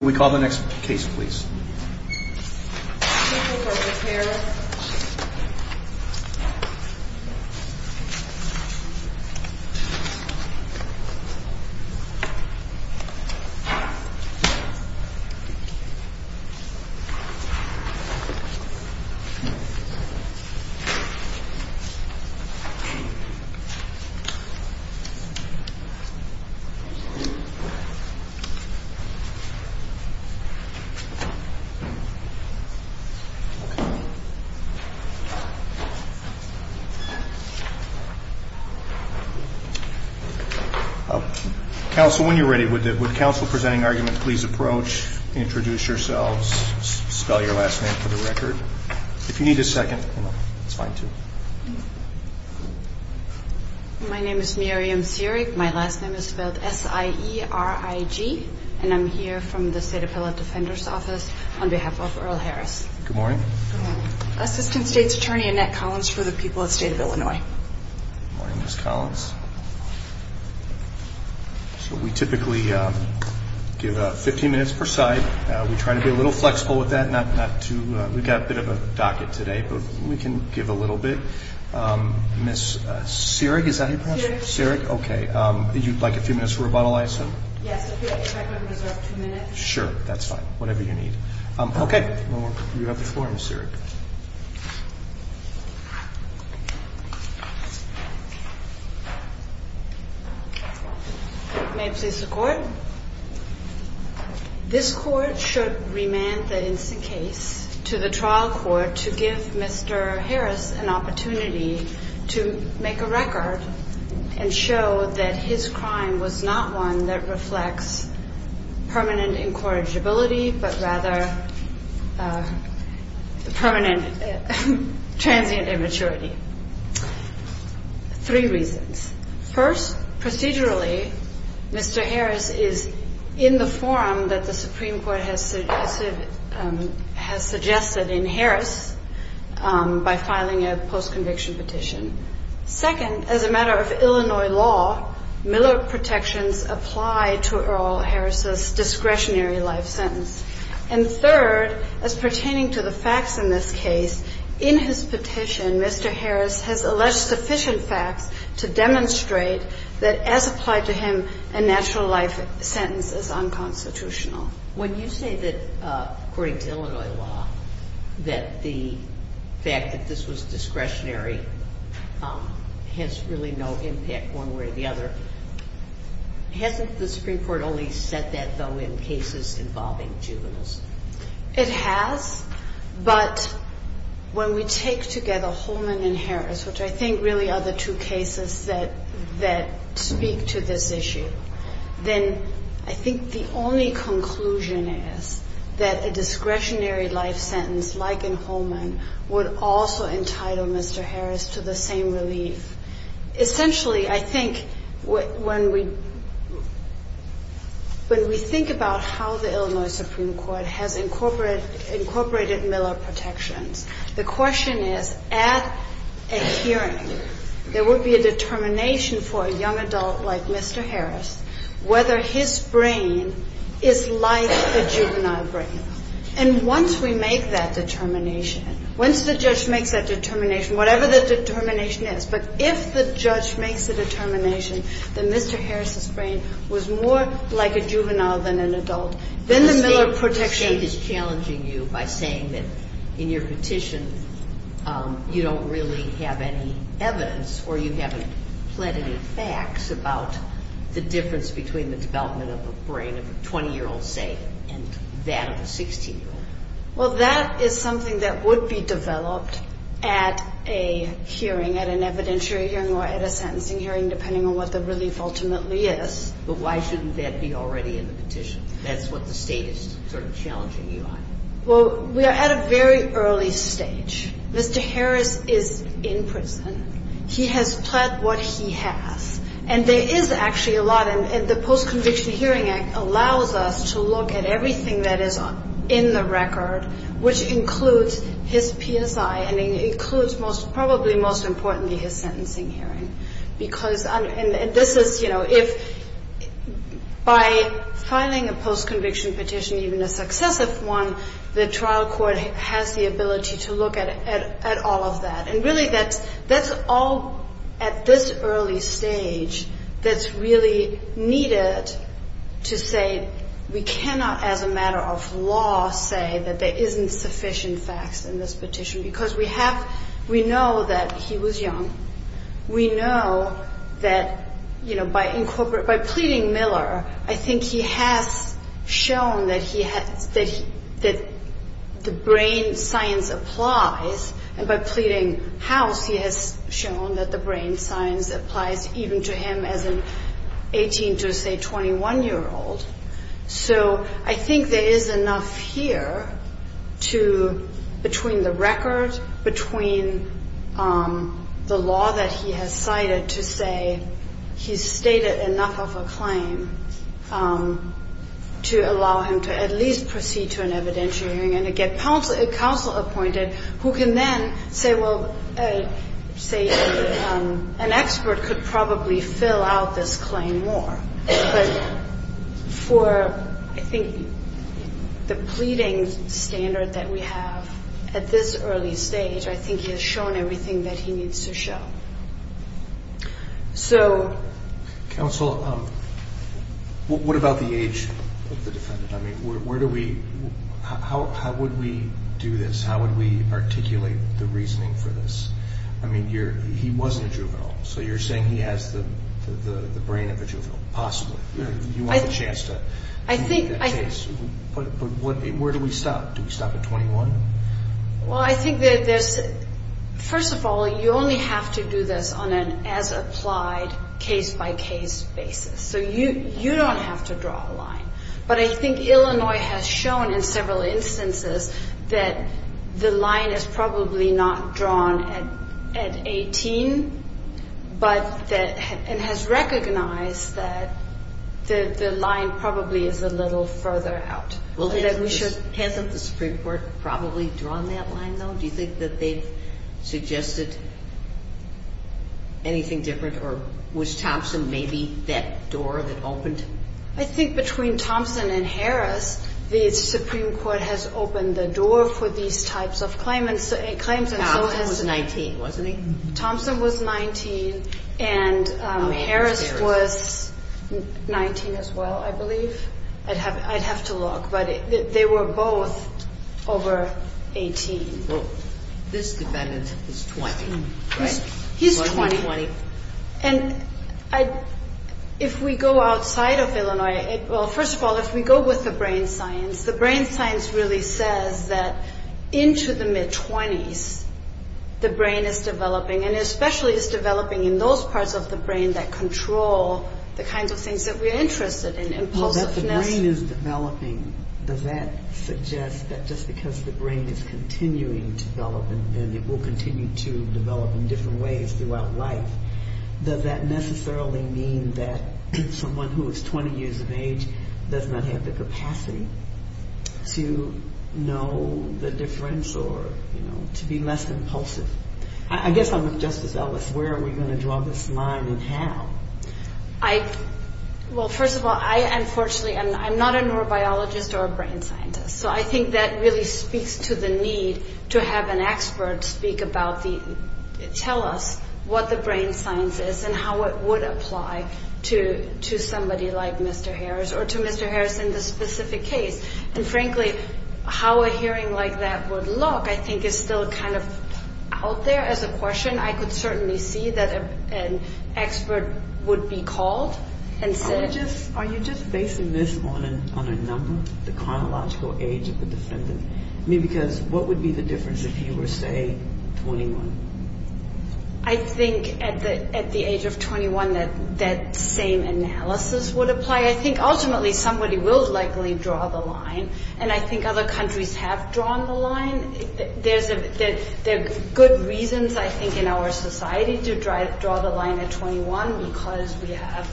We call the next case, please. Counsel, when you're ready, would counsel presenting argument please approach, introduce yourselves, spell your last name for the record. If you need a second, that's fine, too. My name is Miriam Seerig, my last name is spelled S-I-E-R-I-G, and I'm here from the State Appellate Defender's Office on behalf of Earl Harris. Assistant State's Attorney Annette Collins for the people of the State of Illinois. Good morning, Ms. Collins. So we typically give 15 minutes per side. We try to be a little flexible with that. We've got a bit of a docket today, but we can give a little bit. Ms. Seerig, is that how you pronounce it? Seerig. Seerig, okay. Would you like a few minutes for rebuttal, I assume? Yes, if I could reserve two minutes. Sure, that's fine, whatever you need. Okay. You have the floor, Ms. Seerig. May it please the Court? This Court should remand the instant case to the trial court to give Mr. Harris an opportunity to make a record and show that his crime was not one that reflects permanent incorrigibility, but rather permanent transient immaturity. Three reasons. First, procedurally, Mr. Harris is in the form that the Supreme Court has suggested in Harris by filing a post-conviction petition. Second, as a matter of Illinois law, Miller protections apply to Earl Harris's discretionary life sentence. And third, as pertaining to the facts in this case, in his petition, Mr. Harris has alleged sufficient facts to demonstrate that as applied to him, a natural life sentence is unconstitutional. When you say that, according to Illinois law, that the fact that this was discretionary has really no impact one way or the other, hasn't the Supreme Court only said that, though, in cases involving juveniles? It has, but when we take together Holman and Harris, which I think really are the two cases that speak to this issue, then I think the only conclusion is that a discretionary life sentence like in Holman would also entitle Mr. Harris to the same relief. Essentially, I think when we think about how the Illinois Supreme Court has incorporated Miller protections, the question is, at a hearing, there would be a determination for a young adult like Mr. Harris whether his brain is like the juvenile brain. And once we make that determination, once the judge makes that determination, whatever the determination is, but if the judge makes the determination that Mr. Harris's brain was more like a juvenile than an adult, then the Miller protections The state is challenging you by saying that in your petition, you don't really have any evidence or you haven't pled any facts about the difference between the development of a brain of a 20-year-old, say, and that of a 16-year-old. Well, that is something that would be developed at a hearing, at an evidentiary hearing or at a sentencing hearing, depending on what the relief ultimately is. But why shouldn't that be already in the petition? That's what the state is sort of challenging you on. Well, we are at a very early stage. Mr. Harris is in prison. He has pled what he has. And there is actually a lot. And the Post-Conviction Hearing Act allows us to look at everything that is in the record, which includes his PSI and includes most probably most importantly his sentencing hearing. And this is, you know, if by filing a post-conviction petition, even a successive one, the trial court has the ability to look at all of that. And really that's all at this early stage that's really needed to say we cannot, as a matter of law, say that there isn't sufficient facts in this petition because we know that he was young. We know that, you know, by pleading Miller, I think he has shown that the brain science applies. And by pleading House, he has shown that the brain science applies even to him as an 18 to, say, 21-year-old. So I think there is enough here to, between the record, between the law that he has cited, to say he's stated enough of a claim to allow him to at least proceed to an evidentiary hearing and to get counsel appointed who can then say, well, an expert could probably fill out this claim more. But for, I think, the pleading standard that we have at this early stage, I think he has shown everything that he needs to show. So... Counsel, what about the age of the defendant? I mean, where do we – how would we do this? How would we articulate the reasoning for this? I mean, he wasn't a juvenile, so you're saying he has the brain of a juvenile, possibly. You want a chance to make that case. But where do we stop? Do we stop at 21? Well, I think that there's – first of all, you only have to do this on an as-applied, case-by-case basis. So you don't have to draw a line. But I think Illinois has shown in several instances that the line is probably not drawn at 18, but that – and has recognized that the line probably is a little further out. Well, hasn't the Supreme Court probably drawn that line, though? Do you think that they've suggested anything different? Or was Thompson maybe that door that opened? I think between Thompson and Harris, the Supreme Court has opened the door for these types of claims. Thompson was 19, wasn't he? Thompson was 19, and Harris was 19 as well, I believe. I'd have to look. But they were both over 18. Well, this defendant is 20, right? He's 20. And if we go outside of Illinois – well, first of all, if we go with the brain science, the brain science really says that into the mid-20s, the brain is developing, and especially is developing in those parts of the brain that control the kinds of things that we're interested in, impulsiveness. Well, that the brain is developing, does that suggest that just because the brain is continuing to develop, and it will continue to develop in different ways throughout life, does that necessarily mean that someone who is 20 years of age does not have the capacity to know the difference or, you know, to be less impulsive? I guess I'm with Justice Ellis. Where are we going to draw this line, and how? Well, first of all, I, unfortunately, I'm not a neurobiologist or a brain scientist, so I think that really speaks to the need to have an expert speak about the – tell us what the brain science is and how it would apply to somebody like Mr. Harris or to Mr. Harris in this specific case. And, frankly, how a hearing like that would look, I think, is still kind of out there as a question. I could certainly see that an expert would be called and said – Are you just basing this on a number, the chronological age of the defendant? I mean, because what would be the difference if he were, say, 21? I think at the age of 21 that same analysis would apply. I think ultimately somebody will likely draw the line, and I think other countries have drawn the line. There are good reasons, I think, in our society to draw the line at 21 because we have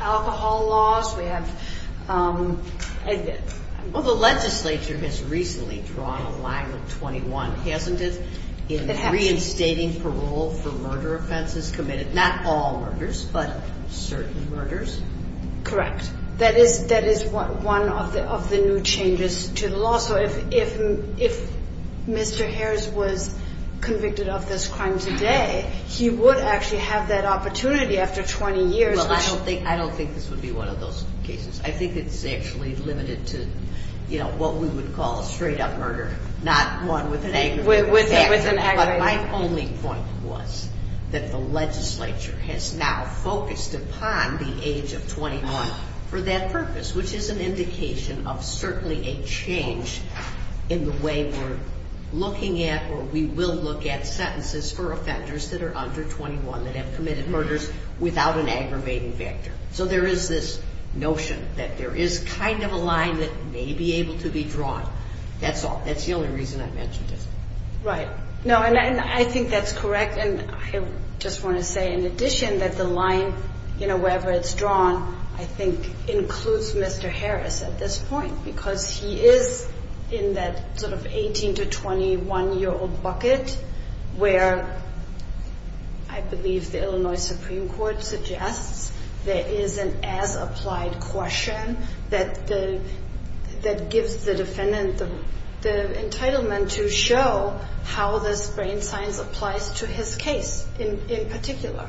alcohol laws, we have – Well, the legislature has recently drawn a line with 21, hasn't it, in reinstating parole for murder offenses committed, not all murders, but certain murders? Correct. That is one of the new changes to the law. So if Mr. Harris was convicted of this crime today, he would actually have that opportunity after 20 years, which – Well, I don't think this would be one of those cases. I think it's actually limited to what we would call a straight-up murder, not one with an aggravated – With an aggravated – But my only point was that the legislature has now focused upon the age of 21 for that purpose, which is an indication of certainly a change in the way we're looking at or we will look at sentences for offenders that are under 21 that have committed murders without an aggravating factor. So there is this notion that there is kind of a line that may be able to be drawn. That's the only reason I mentioned it. Right. No, and I think that's correct, and I just want to say in addition that the line, wherever it's drawn, I think includes Mr. Harris at this point because he is in that sort of 18 to 21-year-old bucket where I believe the Illinois Supreme Court suggests there is an as-applied question that gives the defendant the entitlement to show how this brain science applies to his case in particular.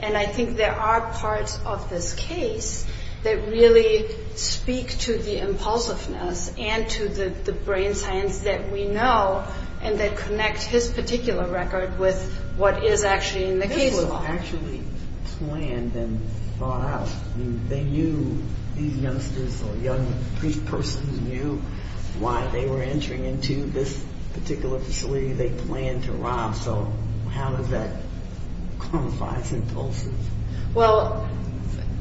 And I think there are parts of this case that really speak to the impulsiveness and to the brain science that we know and that connect his particular record with what is actually in the case law. This was actually planned and thought out. They knew these youngsters or young persons knew why they were entering into this particular facility. They planned to rob, so how does that quantify impulses? Well,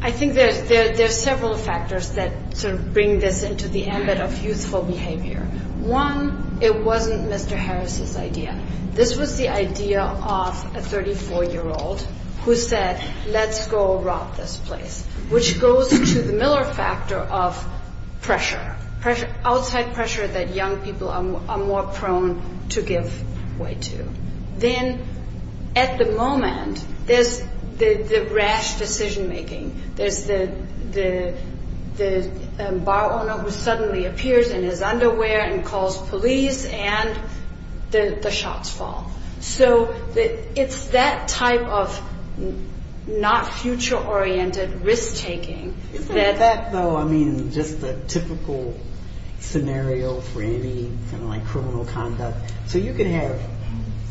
I think there are several factors that sort of bring this into the ambit of youthful behavior. One, it wasn't Mr. Harris's idea. This was the idea of a 34-year-old who said, let's go rob this place, which goes to the Miller factor of pressure, outside pressure that young people are more prone to give way to. Then at the moment, there's the rash decision-making. There's the bar owner who suddenly appears in his underwear and calls police, and the shots fall. So it's that type of not future-oriented risk-taking. Isn't that, though, I mean, just a typical scenario for any criminal conduct? So you can have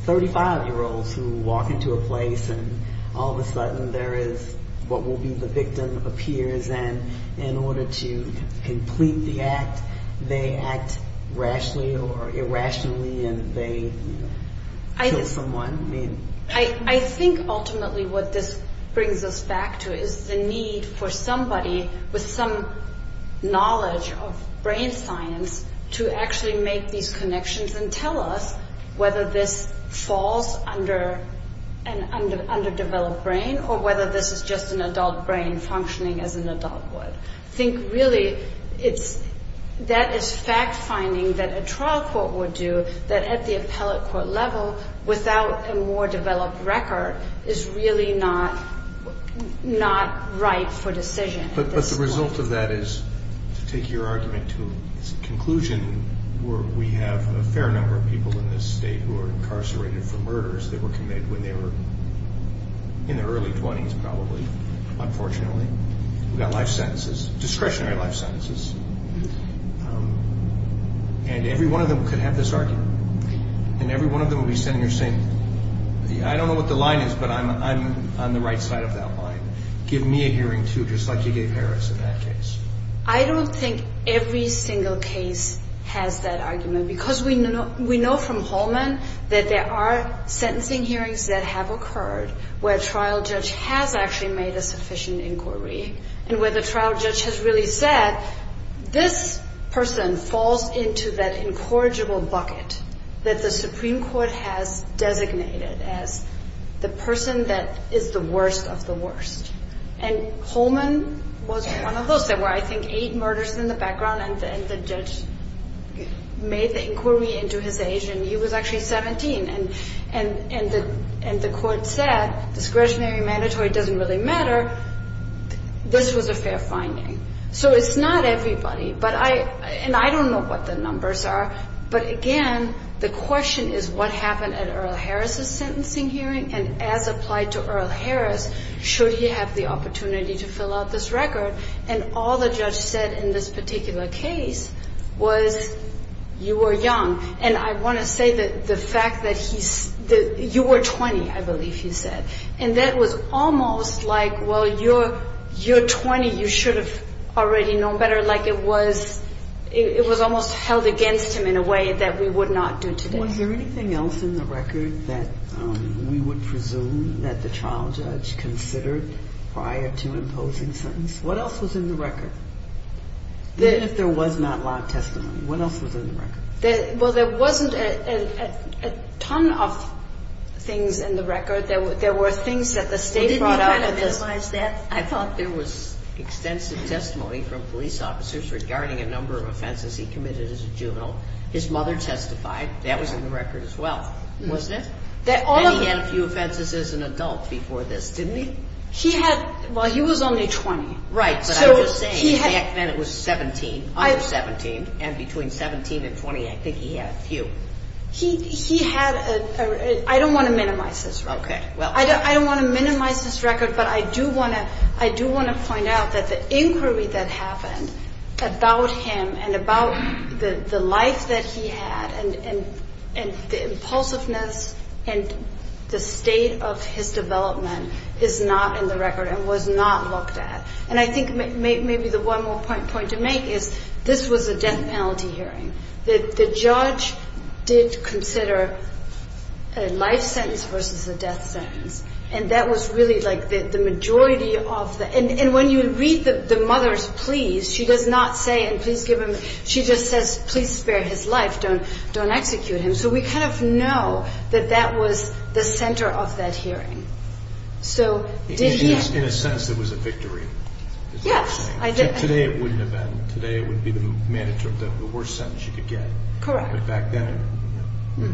35-year-olds who walk into a place and all of a sudden there is what will be the victim appears, and in order to complete the act, they act rashly or irrationally and they kill someone? I think ultimately what this brings us back to is the need for somebody with some knowledge of brain science to actually make these connections and tell us whether this falls under an underdeveloped brain or whether this is just an adult brain functioning as an adult would. I think really that is fact-finding that a trial court would do, that at the appellate court level, without a more developed record, is really not right for decision at this point. But the result of that is, to take your argument to its conclusion, we have a fair number of people in this state who are incarcerated for murders. They were committed when they were in their early 20s, probably, unfortunately. They got life sentences, discretionary life sentences. And every one of them could have this argument. And every one of them would be sitting there saying, I don't know what the line is, but I'm on the right side of that line. Give me a hearing, too, just like you gave Harris in that case. I don't think every single case has that argument because we know from Holman that there are sentencing hearings that have occurred where a trial judge has actually made a sufficient inquiry and where the trial judge has really said, this person falls into that incorrigible bucket that the Supreme Court has designated as the person that is the worst of the worst. And Holman was one of those. There were, I think, eight murders in the background, and the judge made the inquiry into his age, and he was actually 17. And the court said, discretionary, mandatory doesn't really matter. This was a fair finding. So it's not everybody, and I don't know what the numbers are, but, again, the question is what happened at Earl Harris's sentencing hearing, and as applied to Earl Harris, should he have the opportunity to fill out this record? And all the judge said in this particular case was, you were young. And I want to say that the fact that you were 20, I believe he said, and that was almost like, well, you're 20. You should have already known better. Like it was almost held against him in a way that we would not do today. Was there anything else in the record that we would presume that the trial judge considered prior to imposing sentence? What else was in the record? Even if there was not live testimony, what else was in the record? Well, there wasn't a ton of things in the record. There were things that the state brought out. Well, didn't you kind of minimize that? I thought there was extensive testimony from police officers regarding a number of offenses he committed as a juvenile. His mother testified. That was in the record as well, wasn't it? And he had a few offenses as an adult before this, didn't he? Well, he was only 20. Right. But I'm just saying, back then it was 17. I was 17. And between 17 and 20, I think he had a few. He had a ‑‑ I don't want to minimize this record. Okay. I don't want to minimize this record, but I do want to find out that the inquiry that happened about him and about the life that he had and the impulsiveness and the state of his development is not in the record and was not looked at. And I think maybe the one more point to make is this was a death penalty hearing. The judge did consider a life sentence versus a death sentence. And that was really like the majority of the ‑‑ and when you read the mother's pleas, she does not say, and please give him ‑‑ she just says, please spare his life. Don't execute him. So we kind of know that that was the center of that hearing. So did he ‑‑ In a sense, it was a victory. Yes. Today it wouldn't have been. Today it would be the worst sentence you could get. Correct. But back then, no.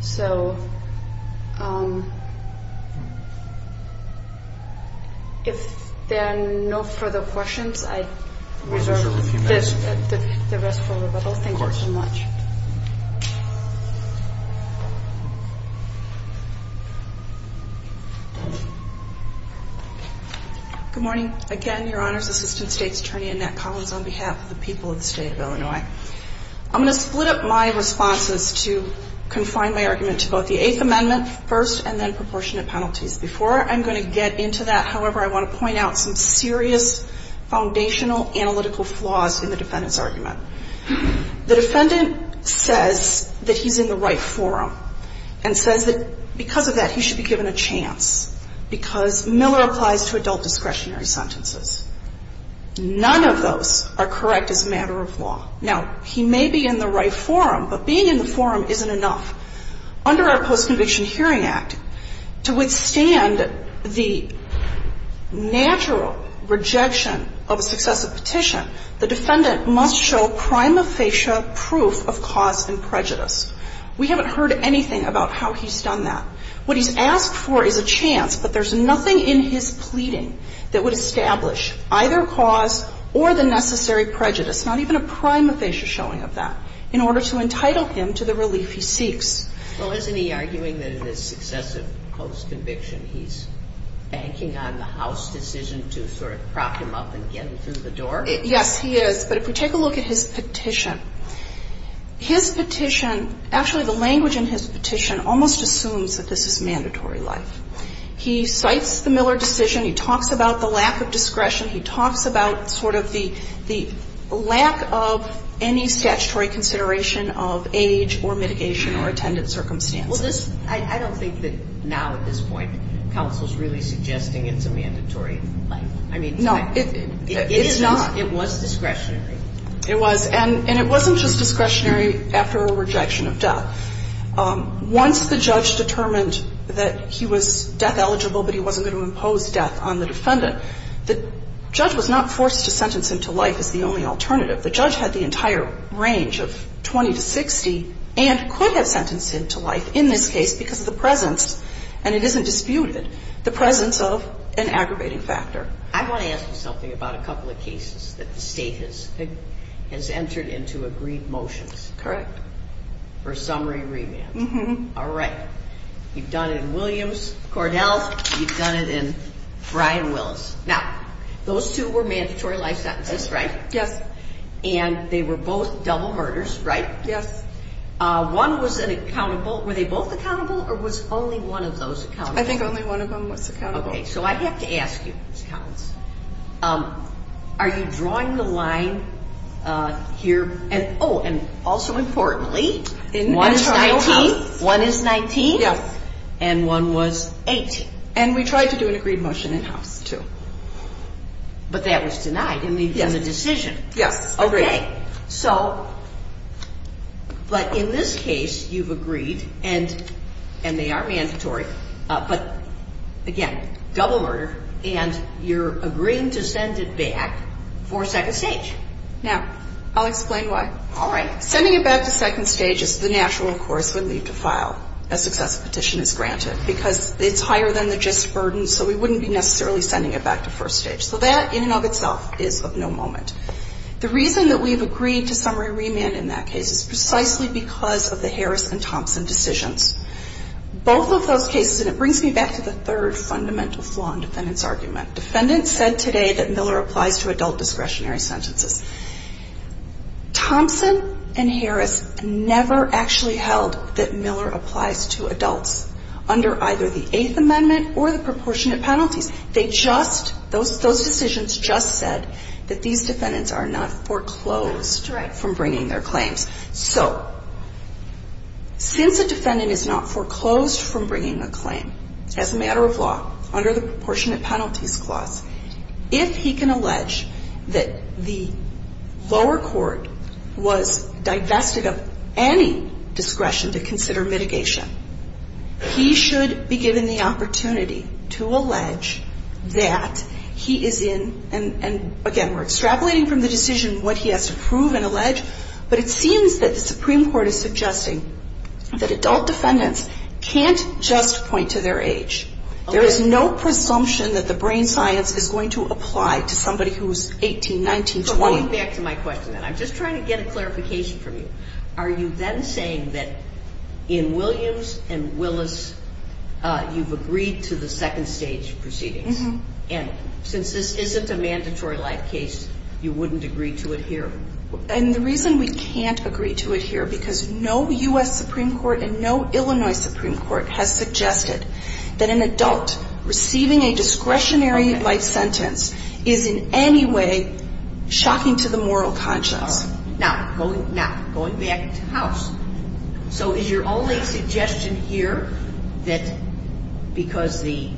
So if there are no further questions, I reserve the rest for Rebecca. Thank you so much. Of course. Good morning. Again, Your Honors, Assistant State's Attorney Annette Collins on behalf of the people of the State of Illinois. I'm going to split up my responses to confine my argument to both the Eighth Amendment first and then proportionate penalties. Before I'm going to get into that, however, I want to point out some serious foundational analytical flaws in the defendant's argument. The defendant says that he's in the right forum and says that because of that, he should be given a chance because Miller applies to adult discretionary sentences. None of those are correct as a matter of law. Now, he may be in the right forum, but being in the forum isn't enough. Under our Post-Conviction Hearing Act, to withstand the natural rejection of a successive petition, the defendant must show prima facie proof of cause and prejudice. We haven't heard anything about how he's done that. What he's asked for is a chance, but there's nothing in his pleading that would establish either cause or the necessary prejudice, not even a prima facie showing of that, in order to entitle him to the relief he seeks. Well, isn't he arguing that in this successive post-conviction, he's banking on the House decision to sort of prop him up and get him through the door? Yes, he is. But if we take a look at his petition, his petition, actually the language in his petition is that this is mandatory life. He cites the Miller decision. He talks about the lack of discretion. He talks about sort of the lack of any statutory consideration of age or mitigation or attendant circumstances. Well, this – I don't think that now, at this point, counsel's really suggesting it's a mandatory life. I mean, it's not. No. It is not. It was discretionary. It was. And it wasn't just discretionary after a rejection of death. Once the judge determined that he was death-eligible but he wasn't going to impose death on the defendant, the judge was not forced to sentence him to life as the only alternative. The judge had the entire range of 20 to 60 and could have sentenced him to life in this case because of the presence, and it isn't disputed, the presence of an aggravating factor. I want to ask you something about a couple of cases that the state has entered into agreed motions. Correct. For summary remand. Mm-hmm. All right. You've done it in Williams, Cordell. You've done it in Brian Willis. Now, those two were mandatory life sentences, right? Yes. And they were both double murders, right? Yes. accountable? I think only one of them was accountable. Okay. So I have to ask you, Ms. Collins, are you drawing the line here? Oh, and also importantly, one is 19 and one was 18. And we tried to do an agreed motion in-house, too. But that was denied in the decision. Yes. Agreed. Okay. But in this case, you've agreed, and they are mandatory. But, again, double murder, and you're agreeing to send it back for second stage. Now, I'll explain why. All right. Sending it back to second stage is the natural course we'd leave to file a success petition as granted, because it's higher than the gist burden, so we wouldn't be necessarily sending it back to first stage. So that, in and of itself, is of no moment. The reason that we've agreed to summary remand in that case is precisely because of the Harris and Thompson decisions. Both of those cases, and it brings me back to the third fundamental flaw in defendant's argument. Defendants said today that Miller applies to adult discretionary sentences. Thompson and Harris never actually held that Miller applies to adults under either the Eighth Amendment or the proportionate penalties. They just, those decisions just said that these defendants are not foreclosed from bringing their claims. So, since a defendant is not foreclosed from bringing a claim, as a matter of law, under the proportionate penalties clause, if he can allege that the lower court was divested of any discretion to consider mitigation, he should be given the opportunity to allege that he is in, and, again, we're extrapolating from the decision what he has to prove and allege. But it seems that the Supreme Court is suggesting that adult defendants can't just point to their age. There is no presumption that the brain science is going to apply to somebody who is 18, 19, 20. But going back to my question, then, I'm just trying to get a clarification from you. Are you then saying that in Williams and Willis, you've agreed to the second stage proceedings? And since this isn't a mandatory life case, you wouldn't agree to it here? And the reason we can't agree to it here, because no U.S. Supreme Court and no Illinois Supreme Court has suggested that an adult receiving a discretionary life sentence is in any way shocking to the moral conscience. Now, going back to House, so is your only suggestion here that because the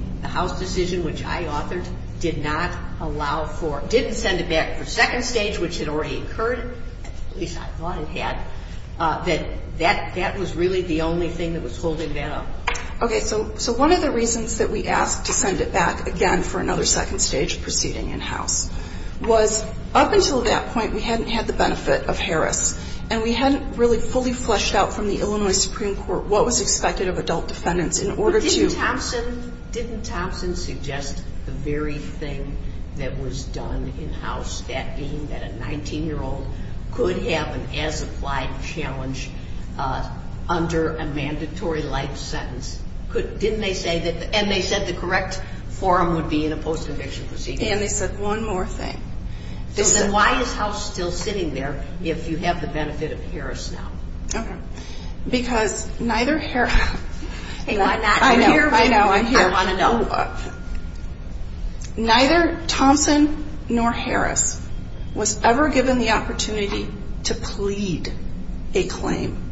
decision that I authored did not allow for, didn't send it back for second stage, which had already occurred, at least I thought it had, that that was really the only thing that was holding that up? Okay. So one of the reasons that we asked to send it back, again, for another second stage proceeding in House, was up until that point, we hadn't had the benefit of Harris, and we hadn't really fully fleshed out from the Illinois Supreme Court what was expected of adult defendants in order to Didn't Thompson suggest the very thing that was done in House, that being that a 19-year-old could have an as-applied challenge under a mandatory life sentence? Didn't they say that, and they said the correct forum would be in a post-conviction proceeding? And they said one more thing. So then why is House still sitting there if you have the benefit of Harris now? Okay. Because neither Harris Hang on. I'm here. I know. I'm here. I want to know. Neither Thompson nor Harris was ever given the opportunity to plead a claim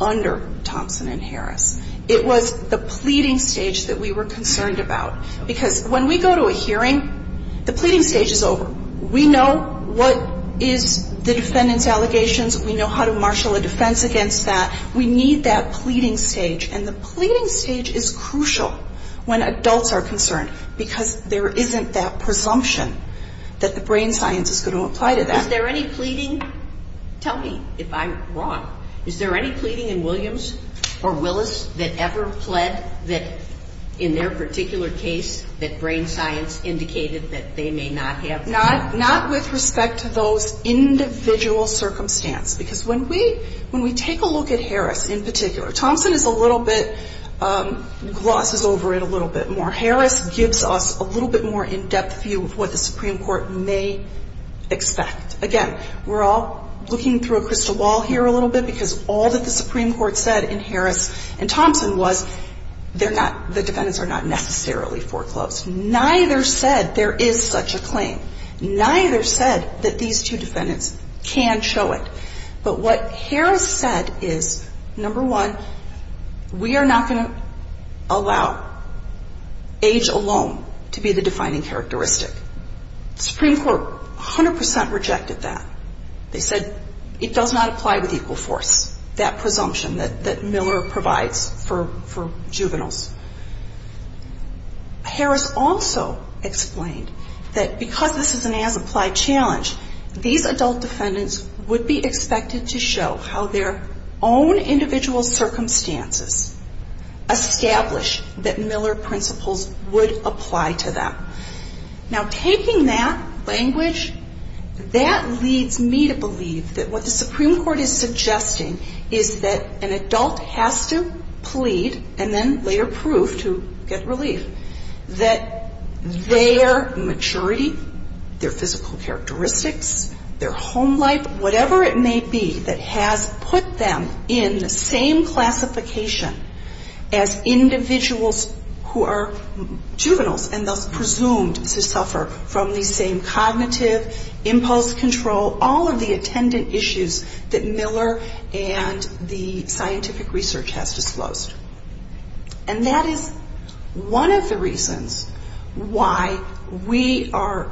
under Thompson and Harris. It was the pleading stage that we were concerned about. Because when we go to a hearing, the pleading stage is over. We know what is the defendant's allegations. We know how to marshal a defense against that. We need that pleading stage. And the pleading stage is crucial when adults are concerned because there isn't that presumption that the brain science is going to apply to that. Is there any pleading? Tell me if I'm wrong. Is there any pleading in Williams or Willis that ever pled that in their particular case that brain science indicated that they may not have the opportunity? Not with respect to those individual circumstances. Because when we take a look at Harris in particular, Thompson is a little bit, glosses over it a little bit more. Harris gives us a little bit more in-depth view of what the Supreme Court may expect. Again, we're all looking through a crystal ball here a little bit because all that the Supreme Court said in Harris and Thompson was the defendants are not necessarily foreclosed. Neither said there is such a claim. Neither said that these two defendants can show it. But what Harris said is, number one, we are not going to allow age alone to be the defining characteristic. The Supreme Court 100% rejected that. They said it does not apply with equal force, that presumption that Miller provides for juveniles. Harris also explained that because this is an as-applied challenge, these adult defendants would be expected to show how their own individual circumstances establish that Miller principles would apply to them. Now, taking that language, that leads me to believe that what the Supreme Court is suggesting is that an adult has to plead and then later plead for proof to get relief that their maturity, their physical characteristics, their home life, whatever it may be that has put them in the same classification as individuals who are juveniles and thus presumed to suffer from the same cognitive impulse control, all of the attendant issues that Miller and the scientific research has disclosed. And that is one of the reasons why we are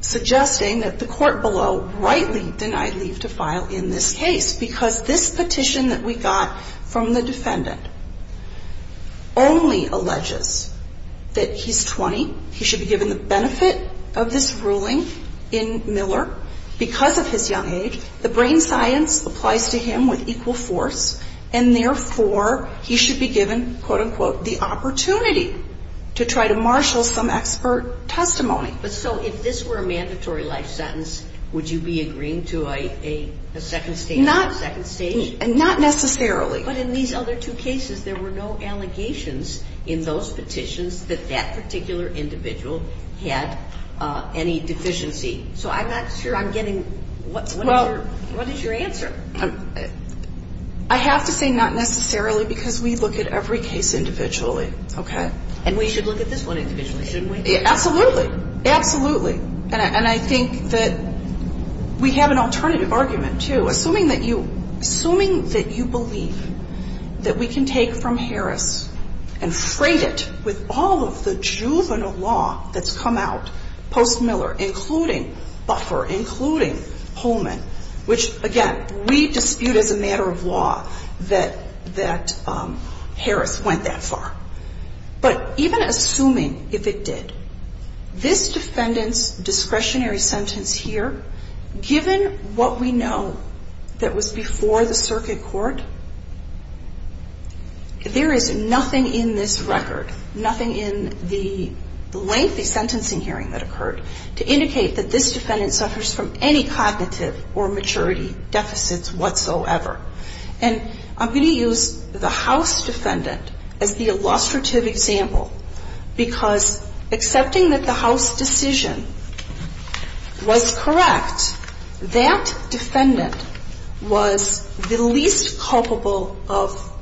suggesting that the court below rightly denied leave to file in this case, because this petition that we got from the defendant only alleges that he's 20, he should be given the benefit of this ruling in Miller because of his young age, the brain science applies to him with equal force, and therefore, he should be given, quote-unquote, the opportunity to try to marshal some expert testimony. But so if this were a mandatory life sentence, would you be agreeing to a second stage? Not necessarily. But in these other two cases, there were no allegations in those petitions that that particular individual had any deficiency. So I'm not sure I'm getting what is your answer. I have to say not necessarily because we look at every case individually. Okay. And we should look at this one individually, shouldn't we? Absolutely. Absolutely. And I think that we have an alternative argument, too. Assuming that you believe that we can take from Harris and freight it with all of the juvenile law that's come out post-Miller, including Buffer, including Holman, which, again, we dispute as a matter of law that Harris went that far. But even assuming if it did, this defendant's discretionary sentence here, given what we know that was before the circuit court, there is nothing in this record, nothing in the lengthy sentencing hearing that occurred, to indicate that this defendant suffers from any cognitive or maturity deficits whatsoever. And I'm going to use the House defendant as the illustrative example because accepting that the House decision was correct, that defendant was the least culpable of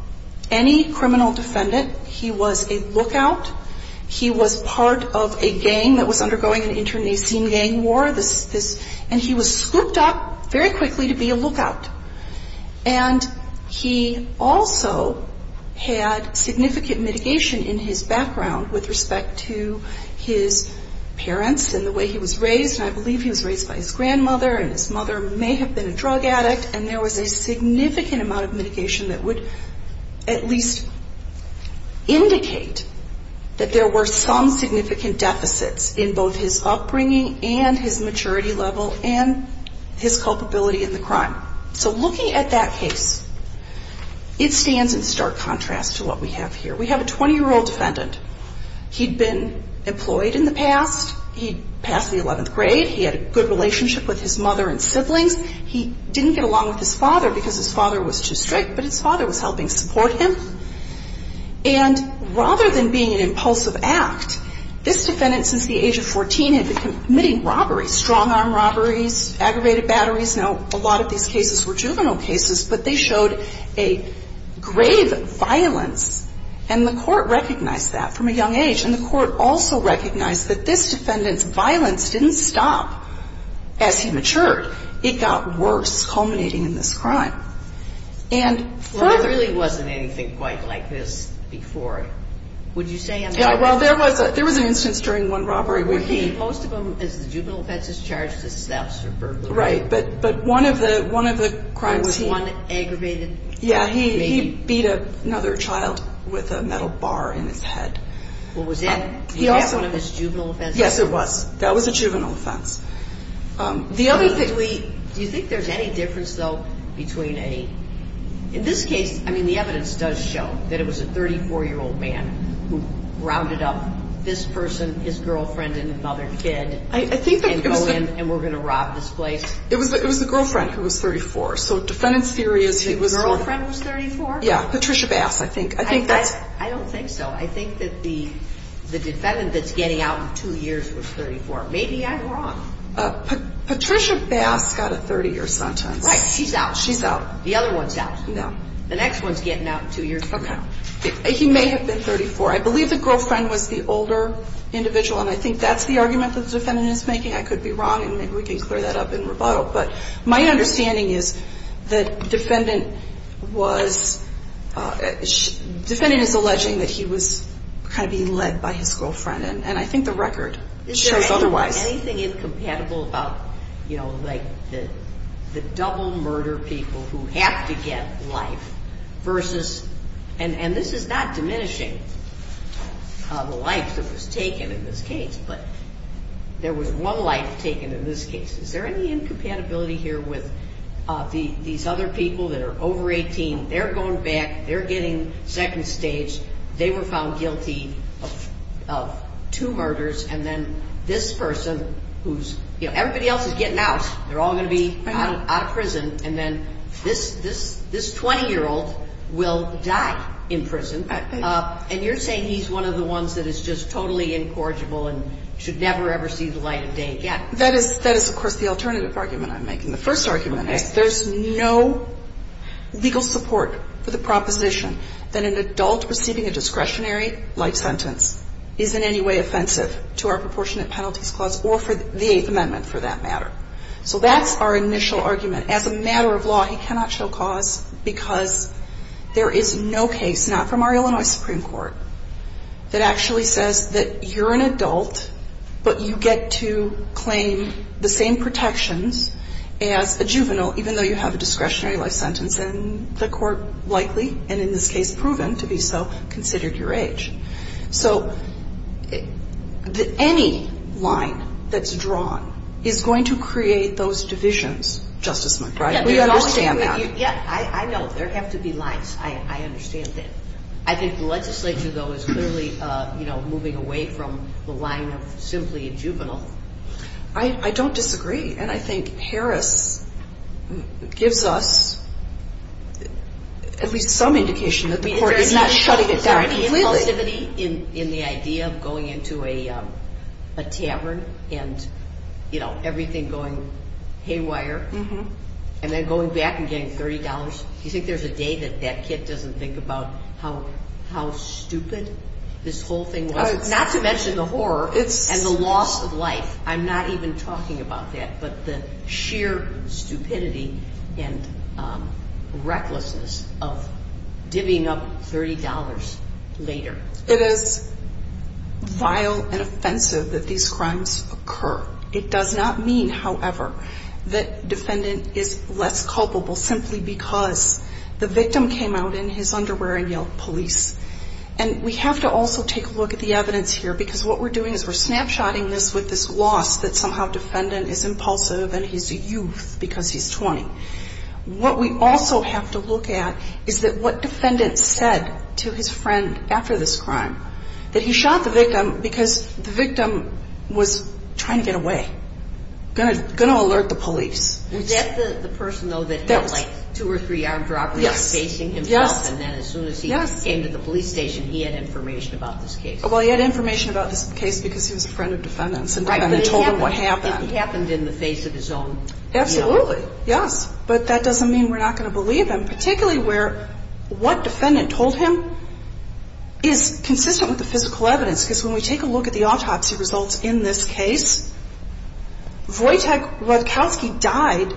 any criminal defendant. He was a lookout. He was part of a gang that was undergoing an internecine gang war. And he was scooped up very quickly to be a lookout. And he also had significant mitigation in his background with respect to his parents and the way he was raised. And I believe he was raised by his grandmother and his mother may have been a drug addict. And there was a significant amount of mitigation that would at least indicate that there were some significant deficits in both his upbringing and his maturity level and his culpability in the crime. So looking at that case, it stands in stark contrast to what we have here. We have a 20-year-old defendant. He'd been employed in the past. He passed the 11th grade. He had a good relationship with his mother and siblings. He didn't get along with his father because his father was too strict, but his father was helping support him. And rather than being an impulsive act, this defendant, since the age of 14, had been committing robberies, strong-arm robberies, aggravated batteries. Now, a lot of these cases were juvenile cases, but they showed a grave violence. And the Court recognized that from a young age. And the Court also recognized that this defendant's violence didn't stop as he matured. It got worse, culminating in this crime. And further... Yeah, well, there was an instance during one robbery where he... Right, but one of the crimes he... Yeah, he beat another child with a metal bar in his head. Well, was that one of his juvenile offenses? Yes, it was. That was a juvenile offense. Do you think there's any difference, though, between a... In this case, I mean, the evidence does show that it was a 34-year-old man who rounded up this person, his girlfriend, and another kid, and go in, and we're going to rob this place? It was the girlfriend who was 34, so defendant's theory is he was... His girlfriend was 34? Yeah, Patricia Bass, I think. I don't think so. I think that the defendant that's getting out in two years was 34. Maybe I'm wrong. Patricia Bass got a 30-year sentence. Right, she's out. She's out. The other one's out. No. The next one's getting out in two years from now. Okay. He may have been 34. I believe the girlfriend was the older individual, and I think that's the argument that the defendant is making. I could be wrong, and maybe we can clear that up in rebuttal, but my understanding is that defendant was... Defendant is alleging that he was kind of being led by his girlfriend, and I think the record shows otherwise. Is there anything incompatible about, you know, like the double murder people who have to get life versus... And this is not diminishing the life that was taken in this case, but there was one life taken in this case. Is there any incompatibility here with these other people that are over 18, they're going back, they're getting second stage, they were found guilty of two murders, and then this person who's... You know, everybody else is getting out. They're all going to be out of prison, and then this 20-year-old will die in prison, and you're saying he's one of the ones that is just totally incorrigible and should never, ever see the light of day again. That is, of course, the alternative argument I'm making. The first argument is there's no legal support for the proposition that an adult receiving a discretionary life sentence is in any way offensive to our proportionate penalties clause or for the Eighth Amendment for that matter. So that's our initial argument. As a matter of law, he cannot show cause because there is no case, not from our Illinois Supreme Court, that actually says that you're an adult, but you get to claim the same protections as a juvenile, even though you have a discretionary life sentence, and the court likely, and in this case proven to be so, considered your age. So any line that's drawn is going to create those divisions, Justice McBride. We understand that. Yeah, I know, there have to be lines. I understand that. I think the legislature, though, is clearly moving away from the line of simply a juvenile. I don't disagree. And I think Harris gives us at least some indication that the court is not shutting it down completely. Is there any inclusivity in the idea of going into a tavern and, you know, everything going haywire, and then going back and getting $30? Do you think there's a day that that kid doesn't think about how stupid this whole thing was? Not to mention the horror and the loss of life. I'm not even talking about that, but the sheer stupidity and recklessness of divvying up $30 later. It is vile and offensive that these crimes occur. It does not mean, however, that defendant is less culpable simply because the victim came out in his underwear and yelled police. And we have to also take a look at the evidence here, because what we're doing is we're snapshotting this with this loss that somehow defendant is impulsive and he's a youth because he's 20. What we also have to look at is that what defendant said to his friend after this crime, that he shot the victim because the victim was trying to get away, going to alert the police. Was that the person, though, that had, like, two or three armed droppers facing himself? And then as soon as he came to the police station, he had information about this case. Well, he had information about this case because he was a friend of defendant's and defendant told him what happened. If he happened in the face of his own... Absolutely, yes, but that doesn't mean we're not going to believe him, particularly where what defendant told him is consistent with the physical evidence, because when we take a look at the autopsy results in this case, Wojtek Rutkowski died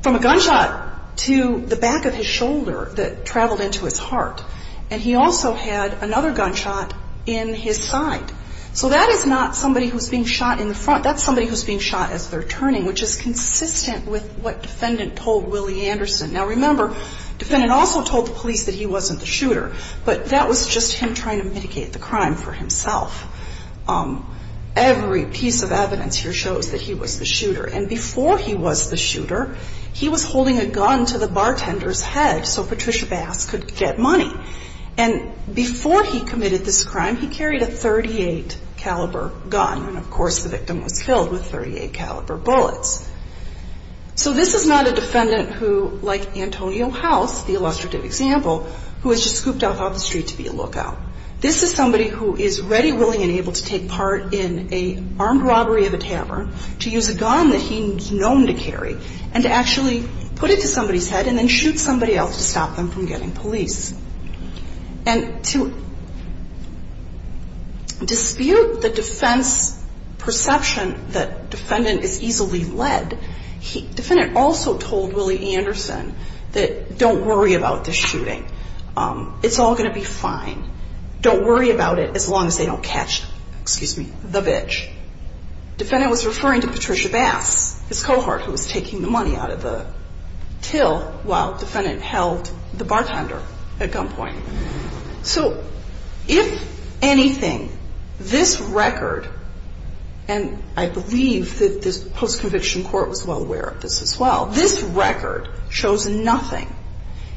from a gunshot to the back of his shoulder that traveled into his heart, and he also had another gunshot in his side. So that is not somebody who's being shot in the front. That's somebody who's being shot as they're turning, which is consistent with what defendant told Willie Anderson. Now, remember, defendant also told the police that he wasn't the shooter, but that was just him trying to mitigate the crime for himself. Every piece of evidence here shows that he was the shooter, and before he was the shooter, he was holding a gun to the bartender's head so Patricia Bass could get money. And before he committed this crime, he carried a .38 caliber gun, and of course the victim was killed with .38 caliber bullets. So this is not a defendant who, like Antonio House, the illustrative example, who was just scooped off the street to be a lookout. This is somebody who is ready, willing, and able to take part in an armed robbery of a tavern, to use a gun that he's known to carry, and to actually put it to somebody's head and then shoot somebody else to stop them from getting police. And to dispute the defense perception that defendant is easily led, defendant also told Willie Anderson that don't worry about this shooting. It's all going to be fine. Don't worry about it as long as they don't catch the bitch. Defendant was referring to Patricia Bass, his cohort, who was taking the money out of the till while defendant held the bartender at gunpoint. So if anything, this record, and I believe that this post-conviction court was well aware of this as well, this record shows nothing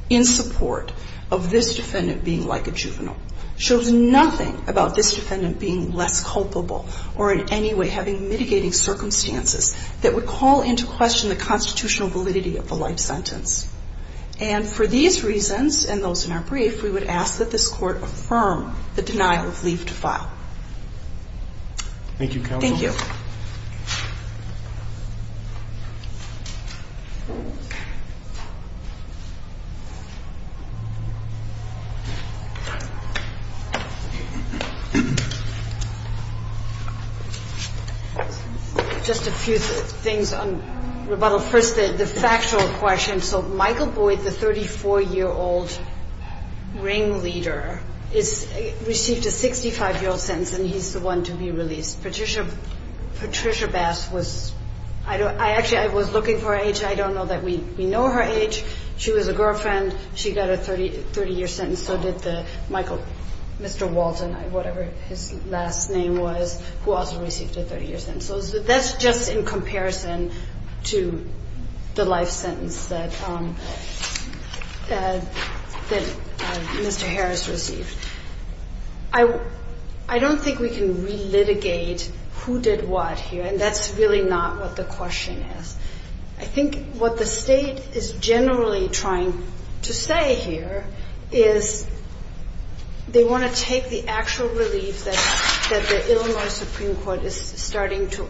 in support of this defendant being like a juvenile. It shows nothing about this defendant being less culpable or in any way having mitigating circumstances that would call into question the constitutional validity of the life sentence. And for these reasons, and those in our brief, we would ask that this court affirm the denial of leave to file. Thank you counsel. Just a few things on rebuttal. First the factual question. So Michael Boyd, the 34-year-old ringleader, received a 65-year-old sentence and he's the one to be released. Patricia Bass was, actually I was looking for her age, I don't know that we know her age. She was a girlfriend, she got a 30-year sentence, so did the Michael, Mr. Walton, whatever his last name was, who also received a 30-year sentence. So that's just in comparison to the life sentence that Mr. Harris received. I don't think we can relitigate who did what here, and that's really not what the question is. I think what the state is generally trying to say here is they want to take the actual relief that the Illinois Supreme Court is starting to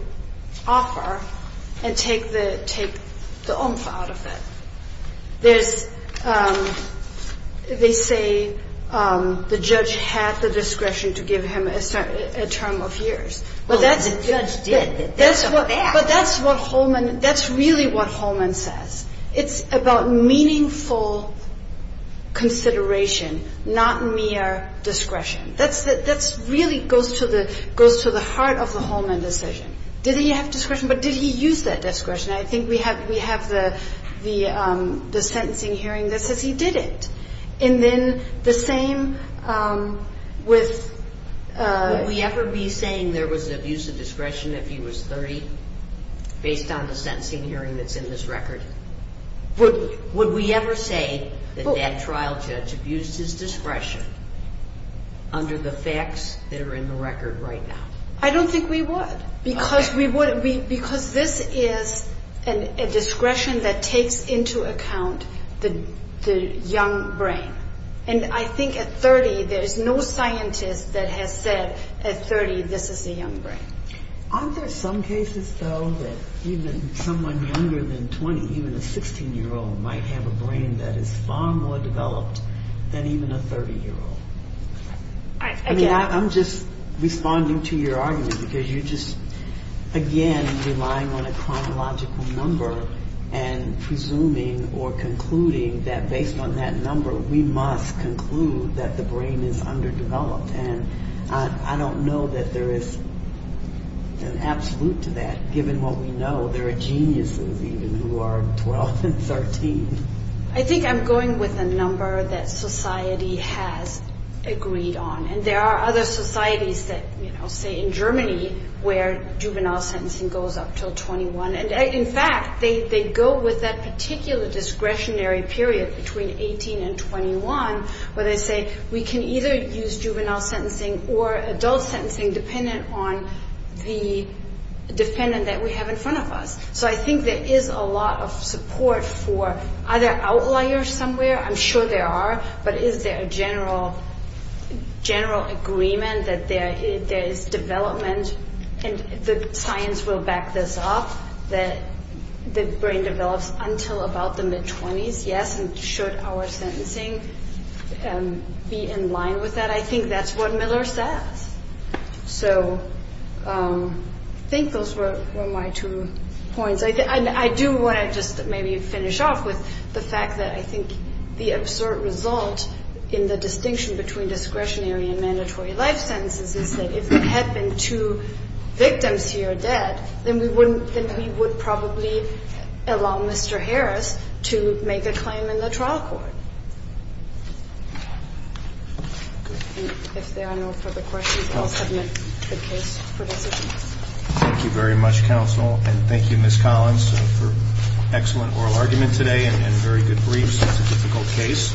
offer and take the oomph out of it. They say the judge had the discretion to give him a term of years. But that's what Holman, that's really what Holman says. It's about meaningful consideration, not mere discretion. That really goes to the heart of the Holman decision. Did he have discretion, but did he use that discretion? I think we have the sentencing hearing that says he didn't. And then the same with... Would we ever be saying there was an abuse of discretion if he was 30, based on the sentencing hearing that's in this record? Would we ever say that that trial judge abused his discretion under the facts that are in the record right now? I don't think we would. Because this is a discretion that takes into account the young brain. And I think at 30 there's no scientist that has said at 30 this is a young brain. Aren't there some cases, though, that even someone younger than 20, even a 16-year-old, might have a brain that is far more developed than even a 30-year-old? I'm just responding to your argument, because you're just, again, relying on a chronological number and presuming or concluding that based on that number we must conclude that the brain is underdeveloped. And I don't know that there is an absolute to that, given what we know. There are geniuses, even, who are 12 and 13. I think I'm going with a number that society has agreed on. And there are other societies that say, in Germany, where juvenile sentencing goes up until 21. And, in fact, they go with that particular discretionary period between 18 and 21, where they say we can either use juvenile sentencing or adult sentencing, dependent on the defendant that we have in front of us. So I think there is a lot of support for, are there outliers somewhere? I'm sure there are, but is there a general agreement that there is development, and the science will back this up, that the brain develops until about the mid-20s? Yes, and should our sentencing be in line with that? I think that's what Miller says. I agree with both points. I do want to just maybe finish off with the fact that I think the absurd result in the distinction between discretionary and mandatory life sentences is that if there had been two victims here dead, then we would probably allow Mr. Harris to make a claim in the trial court. Thank you, Ms. Collins, for an excellent oral argument today and very good briefs. It's a difficult case.